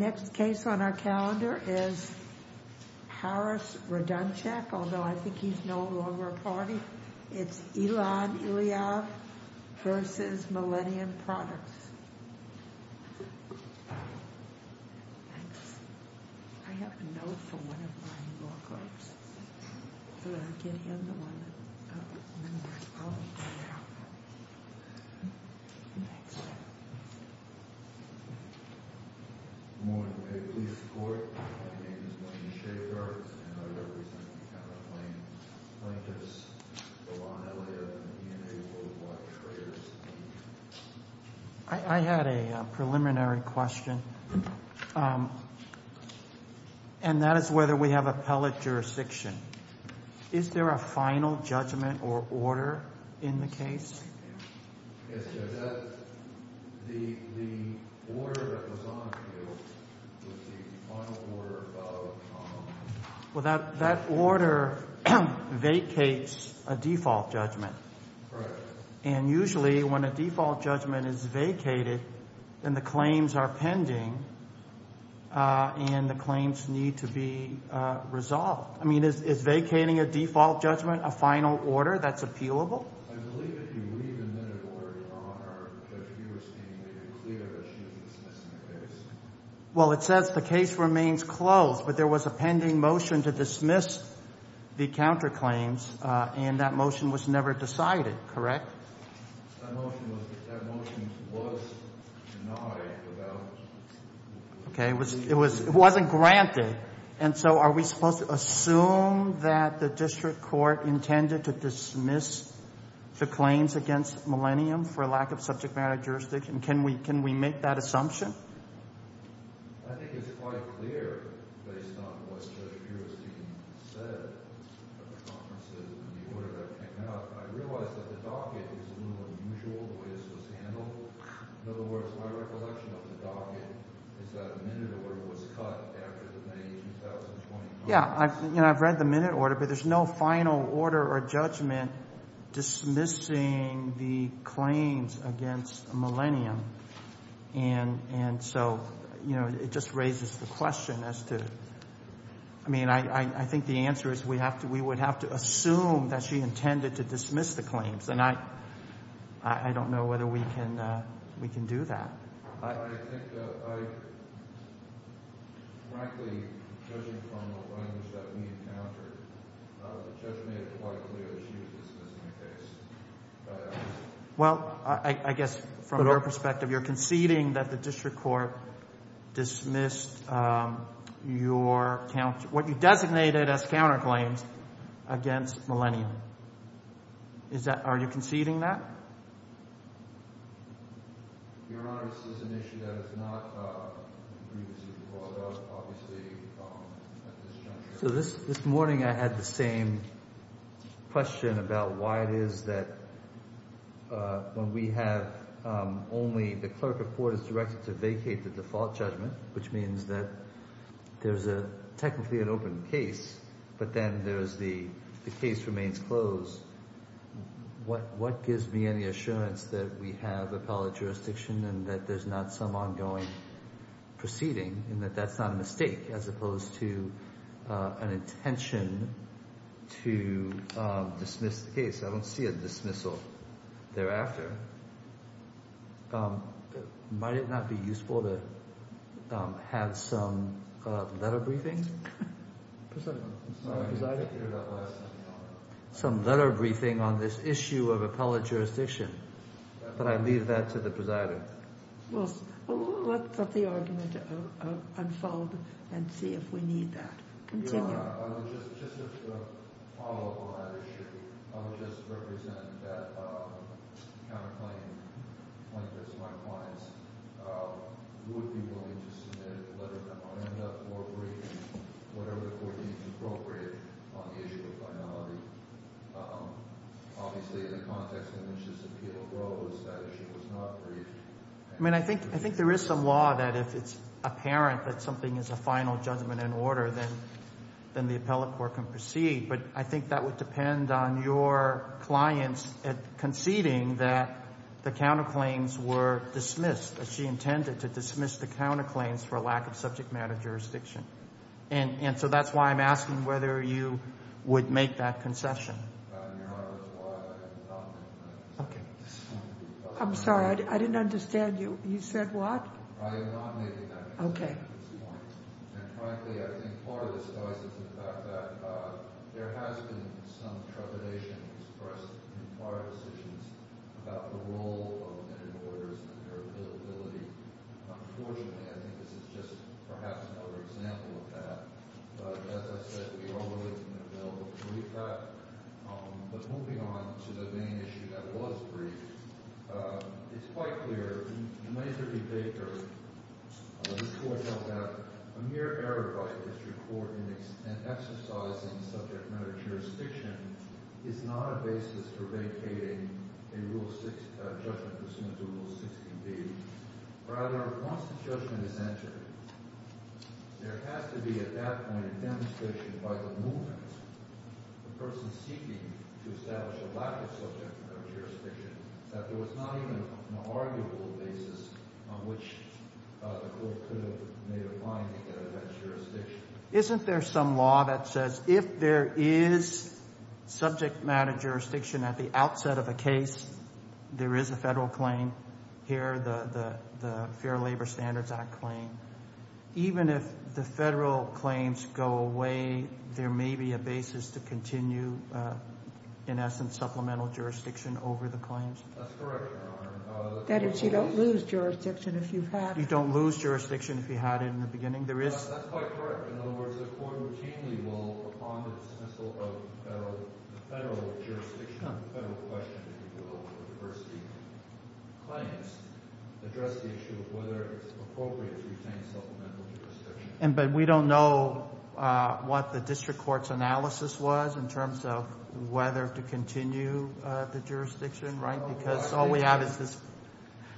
The next case on our calendar is Harris Radoncic, although I think he's no longer a party. It's Elad Iliad v. Millennium Products. Thanks. I have a note for one of my law clerks. I'm going to get him the one that... Thanks. I'm going to a police court. My name is Wayne Schaefer, and I represent the counterclaim plaintiffs Elad Iliad and V&A Worldwide Traders. I had a preliminary question, and that is whether we have appellate jurisdiction. Is there a final judgment or order in the case? Well, that order vacates a default judgment. And usually when a default judgment is vacated, then the claims are pending, and the claims need to be resolved. I mean, is vacating a default judgment a final order that's appealable? I believe if you read the minute order, Your Honor, that you were stating that you're clear that she was dismissing the case. That motion was denied without... ...the claims against Millennium for lack of subject matter jurisdiction. Can we make that assumption? I think it's quite clear based on what Judge Piercey said at the conferences when the order that came out. I realize that the docket is a little unusual, the way this was handled. In other words, my recollection of the docket is that the minute order was cut after the May 2025... And so, you know, it just raises the question as to... I mean, I think the answer is we would have to assume that she intended to dismiss the claims. And I don't know whether we can do that. I think, frankly, judging from the claims that we encountered, the judge made it quite clear that she was dismissing the case. Well, I guess from your perspective, you're conceding that the district court dismissed your... What you designated as counterclaims against Millennium. Are you conceding that? Your Honor, this is an issue that is not previously before us, obviously, at this juncture. So this morning I had the same question about why it is that when we have only... The clerk of court is directed to vacate the default judgment, which means that there's technically an open case. But then there's the case remains closed. What gives me any assurance that we have appellate jurisdiction and that there's not some ongoing proceeding? And that that's not a mistake as opposed to an intention to dismiss the case. I don't see a dismissal thereafter. Your Honor, might it not be useful to have some letter briefing? Some letter briefing on this issue of appellate jurisdiction. Could I leave that to the presider? Let the argument unfold and see if we need that. Your Honor, just as a follow-up on that issue, I would just represent that counterclaim plaintiffs, my clients, would be willing to submit a letter that might end up more briefing, whatever the court deems appropriate, on the issue of finality. Obviously, in the context in which this appeal goes, that issue was not briefed. I mean, I think there is some law that if it's apparent that something is a final judgment in order, then the appellate court can proceed. But I think that would depend on your clients conceding that the counterclaims were dismissed, that she intended to dismiss the counterclaims for lack of subject matter jurisdiction. And so that's why I'm asking whether you would make that concession. Your Honor, that's why I'm not making that concession. Okay. I'm sorry, I didn't understand you. You said what? I am not making that concession at this point. Okay. And frankly, I think part of this lies in the fact that there has been some trepidation expressed in prior decisions about the role of inter-borders and their availability. Unfortunately, I think this is just perhaps another example of that. But as I said, we all know that there is an available committee for that. But moving on to the main issue that was briefed, it's quite clear. In my interview with Baker, he pointed out that a mere error by a district court in exercising subject matter jurisdiction is not a basis for vacating a Rule 6 judgment pursuant to Rule 16B. Rather, once the judgment is entered, there has to be at that point a demonstration by the movement, the person seeking to establish a lack of subject matter jurisdiction, that there was not even an arguable basis on which the court could have made a finding that it had jurisdiction. Isn't there some law that says if there is subject matter jurisdiction at the outset of a case, there is a Federal claim? Here, the Fair Labor Standards Act claim. Even if the Federal claims go away, there may be a basis to continue, in essence, supplemental jurisdiction over the claims. That's correct, Your Honor. That is, you don't lose jurisdiction if you've had it. You don't lose jurisdiction if you had it in the beginning. Yes, that's quite correct. In other words, the court routinely will, upon the dismissal of the Federal jurisdiction, the Federal question of the diversity claims, address the issue of whether it's appropriate to retain supplemental jurisdiction. But we don't know what the district court's analysis was in terms of whether to continue the jurisdiction, right? Because all we have is this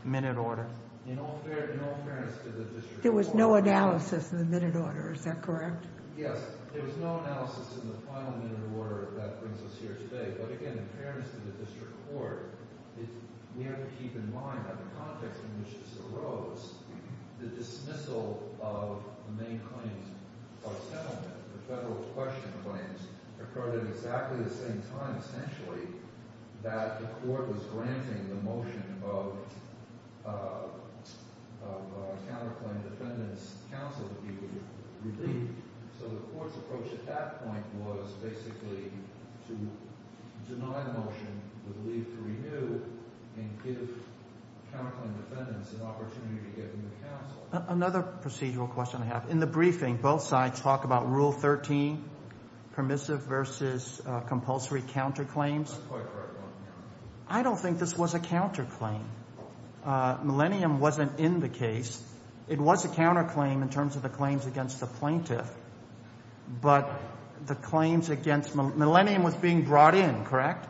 minute order. In all fairness to the district court— There was no analysis in the minute order. Is that correct? Yes. There was no analysis in the final minute order that brings us here today. But, again, in fairness to the district court, we have to keep in mind that the context in which this arose, the dismissal of the main claims of settlement, the Federal question claims, occurred at exactly the same time, that the court was granting the motion of counterclaim defendants' counsel to be relieved. So the court's approach at that point was basically to deny the motion, to leave to renew, and give counterclaim defendants an opportunity to get new counsel. Another procedural question I have. In the briefing, both sides talk about Rule 13, permissive versus compulsory counterclaims. I don't think this was a counterclaim. Millennium wasn't in the case. It was a counterclaim in terms of the claims against the plaintiff. But the claims against—Millennium was being brought in, correct?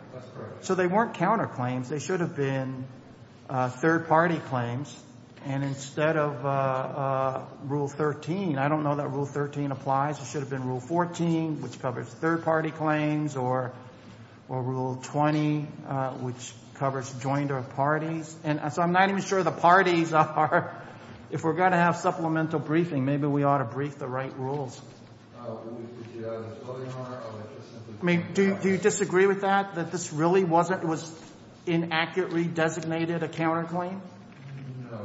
So they weren't counterclaims. They should have been third-party claims. And instead of Rule 13—I don't know that Rule 13 applies. It should have been Rule 14, which covers third-party claims, or Rule 20, which covers joined or parties. And so I'm not even sure the parties are—if we're going to have supplemental briefing, maybe we ought to brief the right rules. Do you disagree with that, that this really wasn't—was inaccurately designated a counterclaim? No, Your Honor.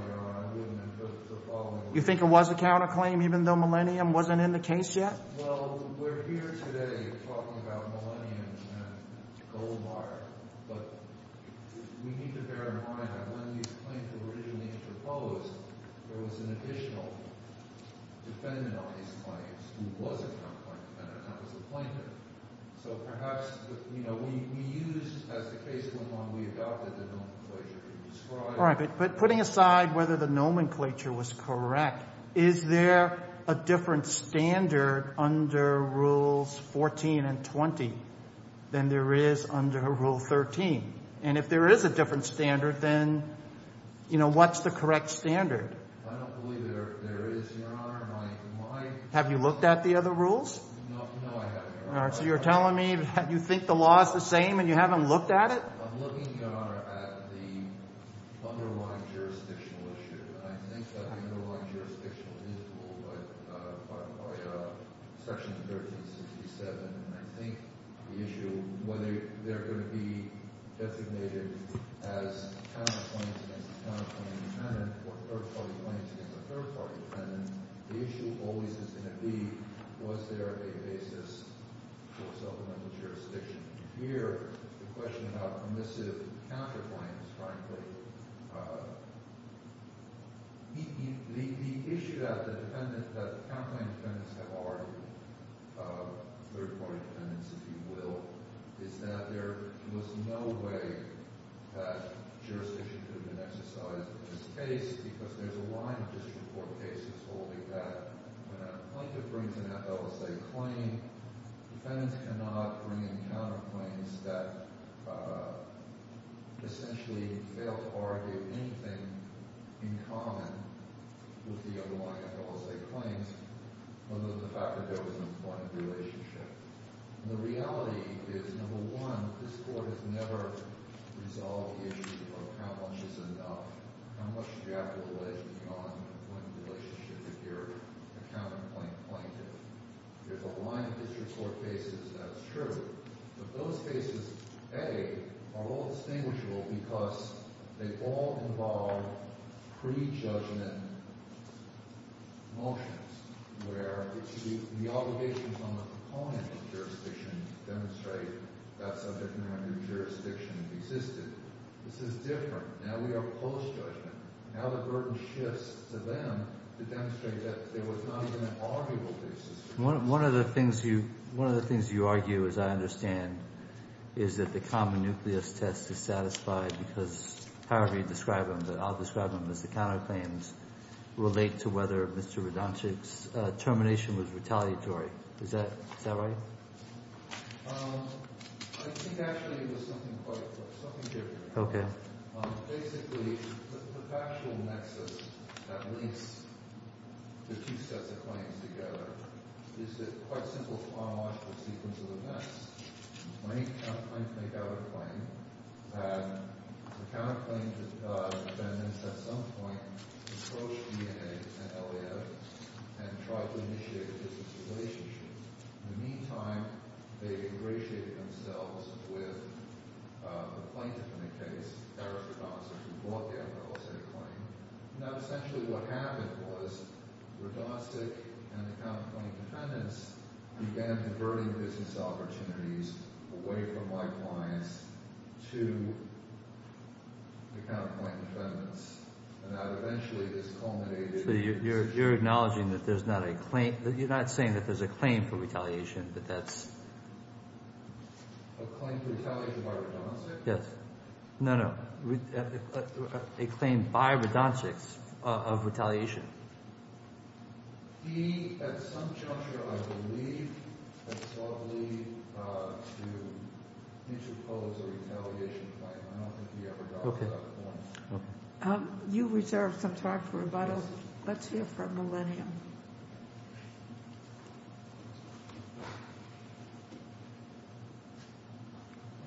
I wouldn't—the following— You think it was a counterclaim even though Millennium wasn't in the case yet? Well, we're here today talking about Millennium and Goldwater. But we need to bear in mind that when these claims were originally proposed, there was an additional defendant on these claims who was a counterclaim defendant. That was the plaintiff. So perhaps, you know, we used—as the case went on, we adopted the nomenclature you described. All right. But putting aside whether the nomenclature was correct, is there a different standard under Rules 14 and 20 than there is under Rule 13? And if there is a different standard, then, you know, what's the correct standard? I don't believe there is, Your Honor. My— Have you looked at the other rules? No, I haven't, Your Honor. All right. So you're telling me that you think the law is the same and you haven't looked at it? I'm looking, Your Honor, at the underlying jurisdictional issue. And I think that the underlying jurisdictional is ruled by Section 1367. And I think the issue, whether they're going to be designated as counterclaims against a counterclaim defendant or third-party claims against a third-party defendant, the issue always is going to be was there a basis for supplemental jurisdiction. Here, the question about permissive counterclaims, frankly, the issue that the defendant—that the counterclaim defendants have argued, third-party defendants, if you will, is that there was no way that jurisdiction could have been exercised in this case because there's a line of district court cases holding that when a plaintiff brings an FLSA claim, defendants cannot bring in counterclaims that essentially fail to argue anything in common with the underlying FLSA claims, other than the fact that there was no point of relationship. And the reality is, number one, this Court has never resolved the issue of how much is enough, how much you have to allege beyond the point of relationship if you're a counterclaim plaintiff. There's a line of district court cases, that's true. But those cases, A, are all distinguishable because they all involve prejudgment motions where the obligations on the proponent of jurisdiction demonstrate that subject matter jurisdiction existed. This is different. Now we are post-judgment. Now the burden shifts to them to demonstrate that there was not even an arguable basis. One of the things you argue, as I understand, is that the common nucleus test is satisfied because however you describe them, I'll describe them as the counterclaims relate to whether Mr. Radonchik's termination was retaliatory. Is that right? I think actually it was something quite different. Basically, the factual nexus that links the two sets of claims together is the quite simple chronological sequence of events. Many counterclaims make out a claim. The counterclaim defendants at some point approached DNA and LAF and tried to initiate a business relationship. In the meantime, they ingratiated themselves with the plaintiff in the case, Eric Radonchik, who brought down the alleged claim. Now essentially what happened was Radonchik and the counterclaim defendants began diverting business opportunities away from my clients to the counterclaim defendants. Now eventually this culminated in business. So you're acknowledging that there's not a claim. You're not saying that there's a claim for retaliation, but that's... A claim for retaliation by Radonchik? Yes. No, no. A claim by Radonchik of retaliation. He, at some juncture, I believe, had sought to lead to what he should call a retaliation claim. I don't think he ever got to that point. You reserved some time for rebuttal. Let's hear from Millennium.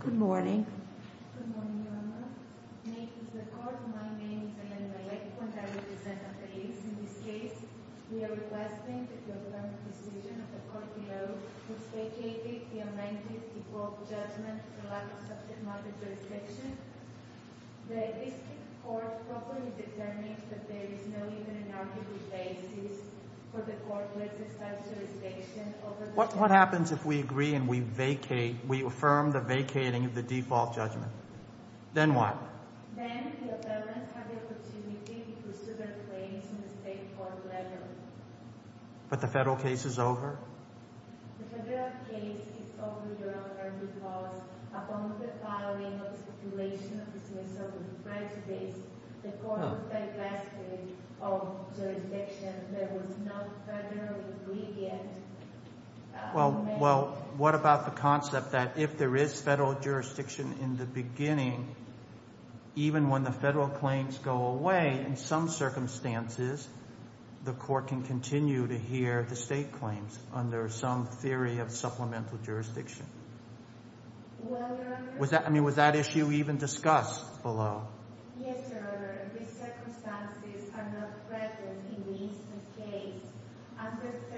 Good morning. Good morning, Your Honor. What happens if we agree and we vacate, we affirm the vacating of the default judgment? Then what? But the federal case is over? The federal case is over, Your Honor, because upon the filing of the speculation of dismissal of the prejudice, the court was very fastidious of jurisdiction that was not federal ingredient. Well, what about the concept that if there is federal jurisdiction in the beginning, even when the federal claims go away, in some circumstances, the court can continue to hear the state claims under some theory of supplemental jurisdiction? Well, Your Honor... I mean, was that issue even discussed below? Yes, Your Honor. These circumstances are not present in this case.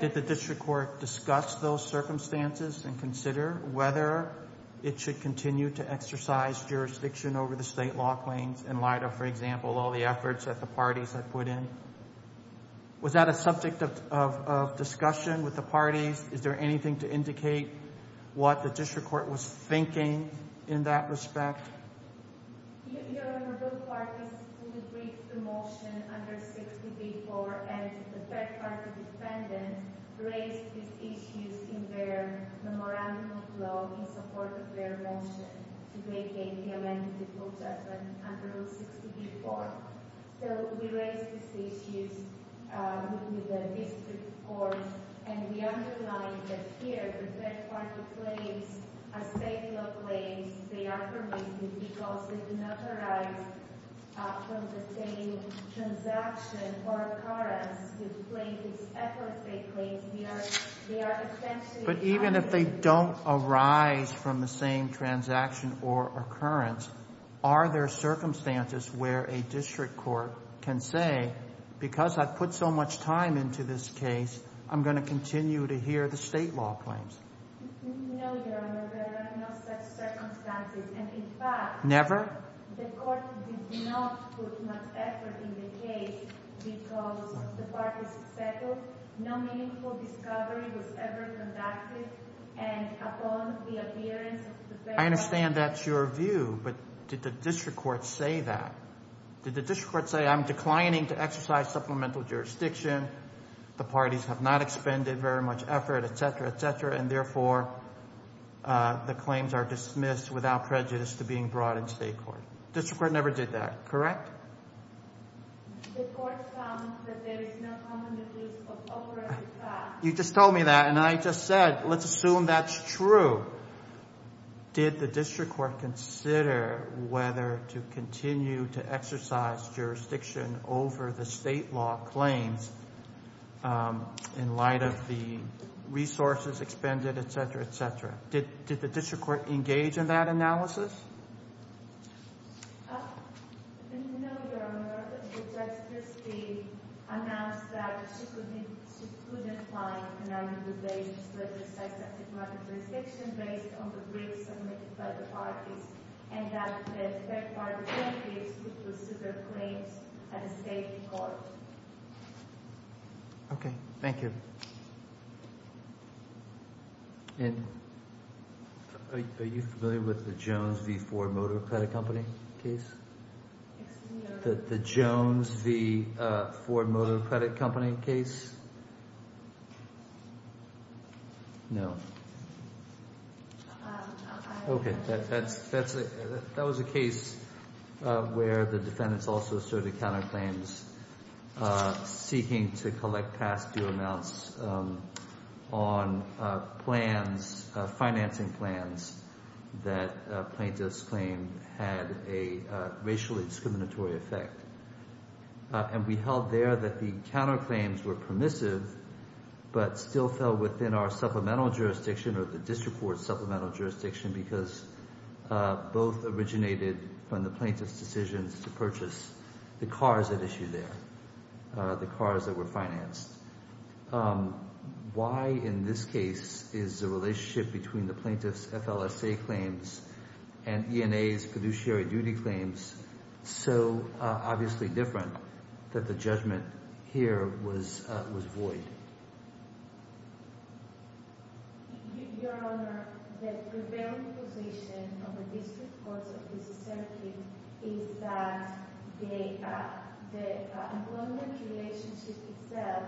Did the district court discuss those circumstances and consider whether it should continue to exercise jurisdiction over the state law claims in light of, for example, all the efforts that the parties have put in? Was that a subject of discussion with the parties? Is there anything to indicate what the district court was thinking in that respect? Your Honor, both parties did agree to the motion under 60b-4, and the third-party defendant raised these issues in their memorandum of law in support of their motion to vacate the amended default judgment under rule 60b-4. So we raised these issues with the district court, and we underlined that here the third-party claims are state law claims. They are permitted because they do not arise from the same transaction or occurrence with plaintiffs' efforts. But even if they don't arise from the same transaction or occurrence, are there circumstances where a district court can say, because I've put so much time into this case, I'm going to continue to hear the state law claims? No, Your Honor. There are no such circumstances. Never? I understand that's your view, but did the district court say that? Did the district court say, I'm declining to exercise supplemental jurisdiction, the parties have not expended very much effort, etc., etc., and therefore the claims are dismissed without prejudice to being brought in state court? District court never did that, correct? You just told me that, and I just said, let's assume that's true. Did the district court consider whether to continue to exercise jurisdiction over the state law claims in light of the resources expended, etc., etc.? Did the district court engage in that analysis? Okay, thank you. Are you familiar with the Jones v. Ford Motor Credit Company case? The Jones v. Ford Motor Credit Company case? No. Okay, that was a case where the defendants also asserted counterclaims seeking to collect past due amounts on plans, financing plans that plaintiffs claimed had a racially discriminatory effect. And we held there that the counterclaims were permissive but still fell within our supplemental jurisdiction or the district court's supplemental jurisdiction because both originated from the plaintiff's decisions to purchase the cars at issue there, the cars that were financed. Why in this case is the relationship between the plaintiff's FLSA claims and ENA's fiduciary duty claims so obviously different that the judgment here was void? Your Honor, the prevailing position of the district courts of this circuit is that the employment relationship itself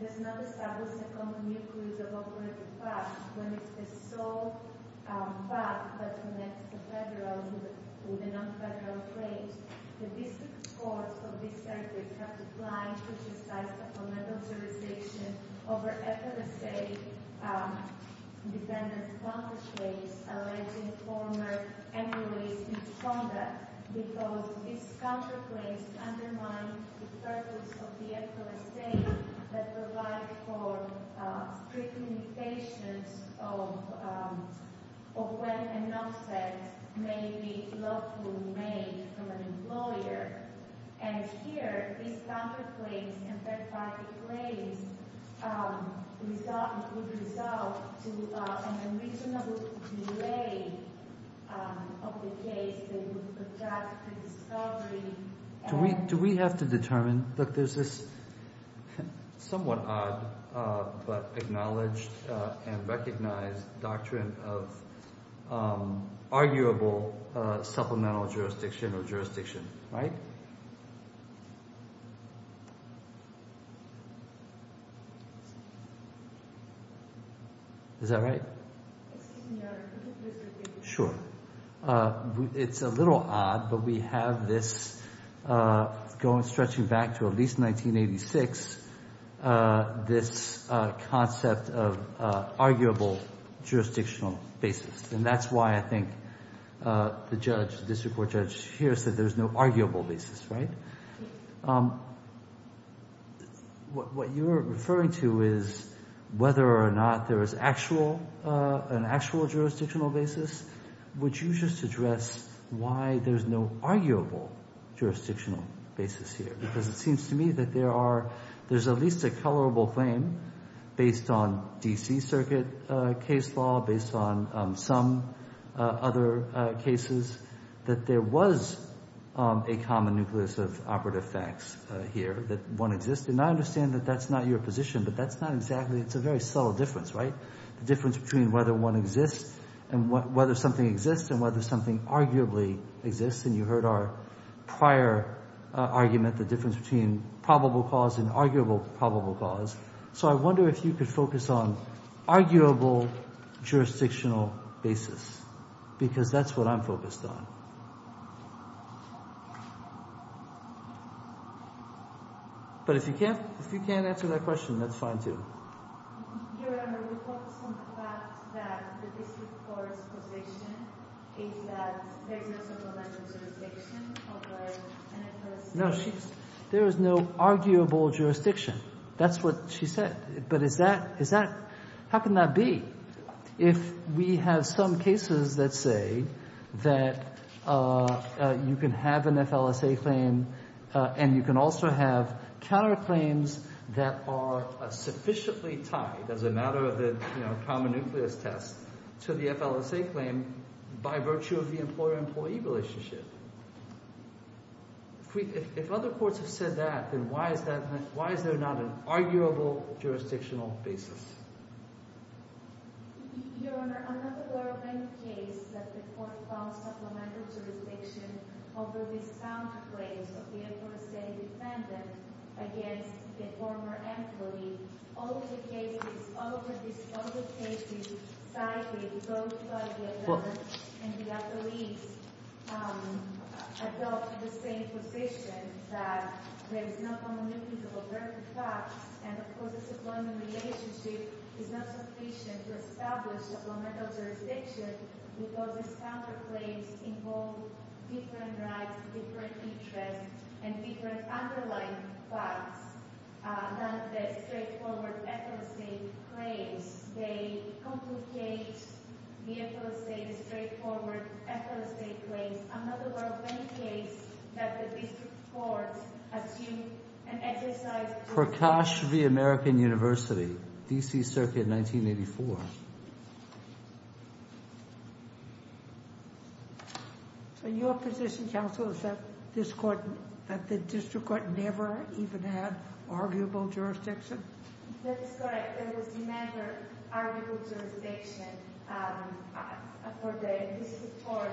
does not establish a common nucleus of operative facts when it is a sole fact that connects the federal to the non-federal claims. The district courts of this circuit have declined to exercise supplemental jurisdiction over FLSA defendants' counterclaims to provide for strict limitations of when an offset may be lawfully made from an employer. And here, these counterclaims and third-party claims would result to an unreasonable delay of the case that would project to discovery. Do we have to determine, look, there's this somewhat odd but acknowledged and recognized doctrine of arguable supplemental jurisdiction or jurisdiction, right? Is that right? Excuse me, Your Honor, could you please repeat the question? Sure. It's a little odd, but we have this going stretching back to at least 1986, this concept of arguable jurisdictional basis. And that's why I think the judge, the district court judge here, said there's no arguable basis, right? What you're referring to is whether or not there is actual, an actual jurisdictional basis. Would you just address why there's no arguable jurisdictional basis here? Because it seems to me that there are, there's at least a colorable claim based on D.C. Circuit case law, based on some other cases, that there was a common nucleus of operative facts here, that one exists. And I understand that that's not your position, but that's not exactly, it's a very subtle difference, right? The difference between whether one exists and whether something exists and whether something arguably exists. And you heard our prior argument, the difference between probable cause and arguable probable cause. So I wonder if you could focus on arguable jurisdictional basis, because that's what I'm focused on. But if you can't answer that question, that's fine too. Your Honor, we focus on the fact that the district court's position is that there is no arguable jurisdiction of an FLSA. No, she, there is no arguable jurisdiction. That's what she said. But is that, is that, how can that be? If we have some cases that say that you can have an FLSA claim and you can also have counterclaims that are sufficiently tied as a matter of the, you know, common nucleus test to the FLSA claim by virtue of the employer-employee relationship. If other courts have said that, then why is that, why is there not an arguable jurisdictional basis? Your Honor, I'm not aware of any case that the court found supplemental jurisdiction over this counterclaims of the FLSA defendant against a former employee. All of the cases, all of the, all of the cases cited, both by the defendants and the attorneys, adopt the same position that there is no common nucleus over the facts. And, of course, the employment relationship is not sufficient to establish supplemental jurisdiction because these counterclaims involve different rights, different interests, and different underlying facts than the straightforward FLSA claims. They complicate the FLSA, the straightforward FLSA claims. I'm not aware of any case that the district courts assume an exercise... Prakash v. American University, D.C. Circuit, 1984. So your position, counsel, is that this court, that the district court never even had arguable jurisdiction? That is correct. There was never arguable jurisdiction for this court.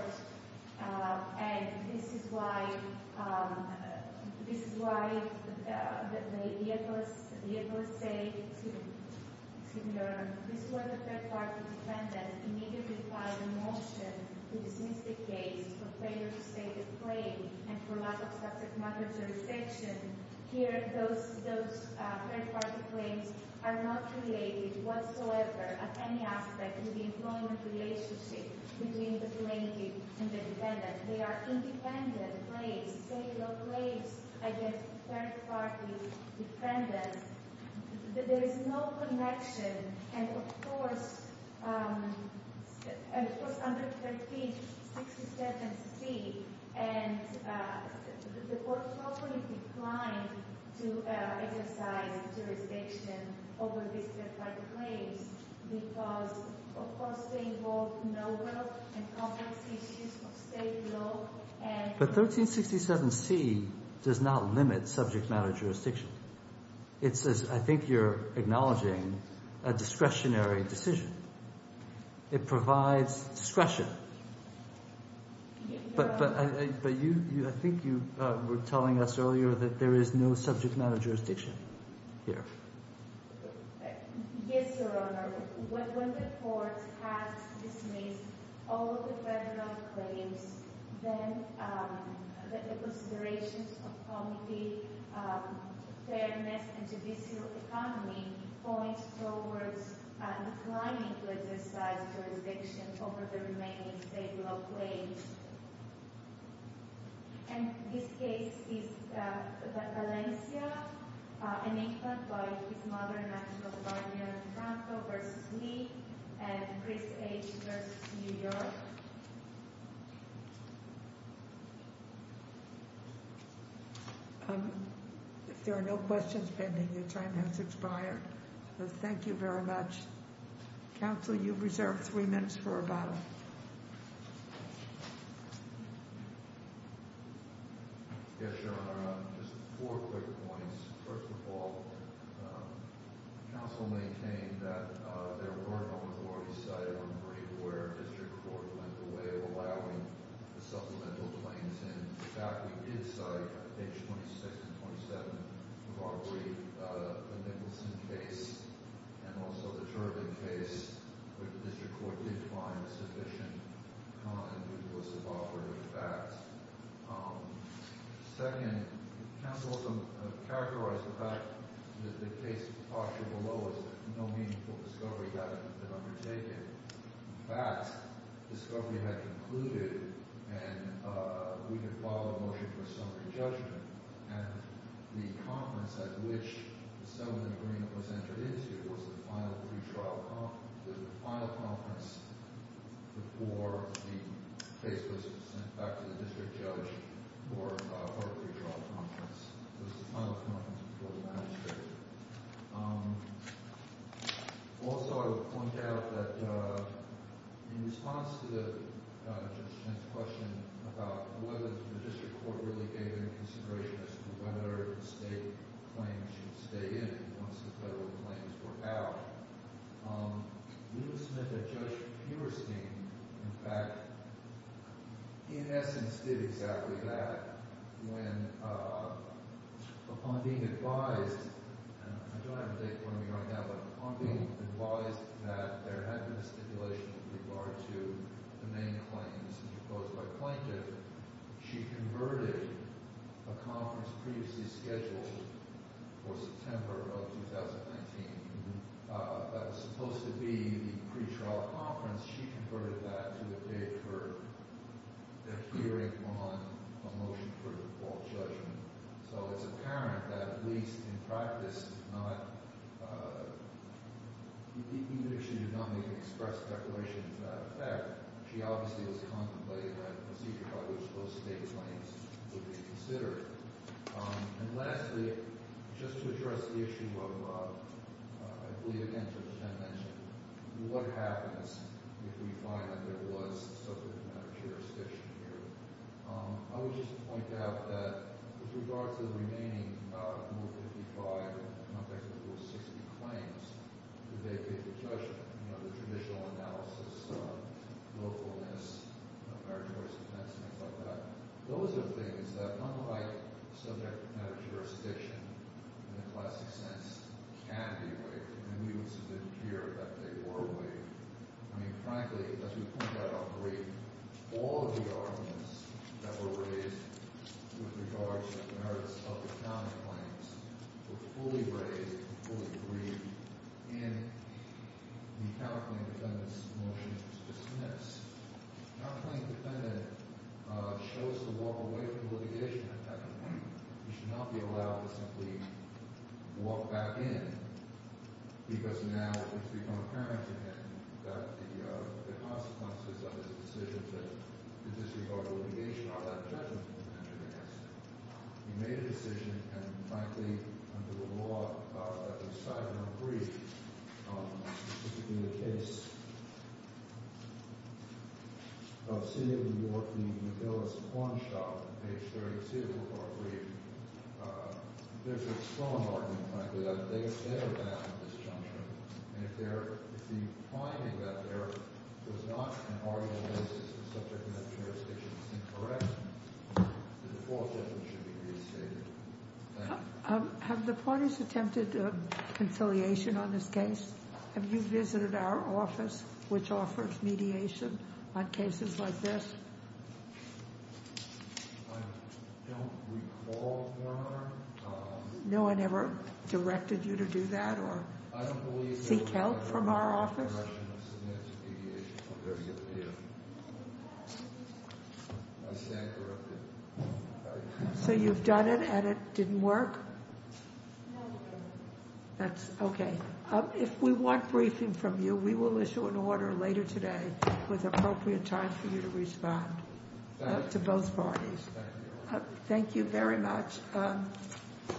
And this is why, this is why the FLSA, to your, this was a third-party defendant immediately filed a motion to dismiss the case for failure to state the claim and for lack of subject matter jurisdiction. Here, those, those third-party claims are not related whatsoever at any aspect to the employment relationship between the plaintiff and the defendant. They are independent claims, state-of-the-art claims against third-party defendants. There is no connection, and, of course, it was under 1367C, and the court probably declined to exercise jurisdiction over these third-party claims because, of course, they involved no-will and complex issues of state law, and... But 1367C does not limit subject matter jurisdiction. It says, I think you're acknowledging a discretionary decision. It provides discretion. But you, I think you were telling us earlier that there is no subject matter jurisdiction here. Yes, Your Honor. When the court has dismissed all of the federal claims, then the considerations of comity, fairness, and judicial economy point towards declining to exercise jurisdiction over the remaining state law claims. And this case is Valencia, an infant, by his mother and actual guardian, Franco v. Lee, and Chris H. v. New York. If there are no questions pending, your time has expired. Thank you very much. Counsel, you've reserved three minutes for rebuttal. Yes, Your Honor. Just four quick points. First of all, counsel maintained that there were no authorities cited on the brief where district court went the way of allowing the supplemental claims in. In fact, we did cite, page 26 and 27 of our brief, the Nicholson case and also the Turbin case, where the district court did find sufficient time to do a suboperative fact. Second, counsel also characterized the fact that the case posture below is that no meaningful discovery had been undertaken. In fact, discovery had concluded, and we had filed a motion for summary judgment, and the conference at which the summary agreement was entered into was the final pre-trial conference. It was the final conference before the case was sent back to the district judge for a pre-trial conference. It was the final conference before the magistrate. Also, I would point out that in response to Judge Schmidt's question about whether the district court really gave any consideration as to whether state claims should stay in once the federal claims were out, Judith Schmidt and Judge Peberstein, in fact, in essence, did exactly that when, upon being advised, and I don't have a date in front of me right now, but upon being advised that there had been a stipulation with regard to the main claims proposed by plaintiff, she converted a conference previously scheduled for September of 2019 that was supposed to be the pre-trial conference. She converted that to a date for the hearing on a motion for default judgment. So it's apparent that, at least in practice, she did not make an express declaration to that effect. She obviously was contemplating a procedure by which those state claims would be considered. And lastly, just to address the issue of, I believe, again, Judge Chen mentioned, what happens if we find that there was a subject matter jurisdiction here? I would just point out that, with regard to the remaining Move 55 and, in the context of the Move 60 claims, the day-to-day judgment, you know, the traditional analysis, willfulness, meritorious defense, things like that, those are things that, unlike subject matter jurisdiction, in the classic sense, can be waived. And we would submit here that they were waived. I mean, frankly, as we pointed out on the brief, all of the arguments that were raised with regard to the merits of the county claims were fully raised, fully agreed, in the County Claim Defendant's motion to dismiss. The County Claim Defendant chose to walk away from litigation. In fact, he should not be allowed to simply walk back in, because now it's become apparent to him that the consequences of his decision to disregard litigation are that judgment will be entered against him. He made a decision, and, frankly, under the law that was cited in the brief, which would be the case of senior New Yorkie Nabilis Hornshaw, page 32 of our brief, there's a strong argument, frankly, that they are going to have this judgment, and if the finding that there was not an arguable basis for subject matter jurisdiction is incorrect, then the default judgment should be restated. Thank you. Have the parties attempted conciliation on this case? Have you visited our office, which offers mediation on cases like this? I don't recall, Your Honor. No one ever directed you to do that or seek help from our office? I stand corrected. So you've done it, and it didn't work? No, Your Honor. That's okay. If we want briefing from you, we will issue an order later today with appropriate time for you to respond to both parties. Thank you. Thank you very much.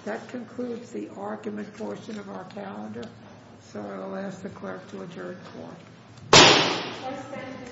That concludes the argument portion of our calendar, so I will ask the clerk to adjourn the court. I stand adjourned. Thank you, Your Honor.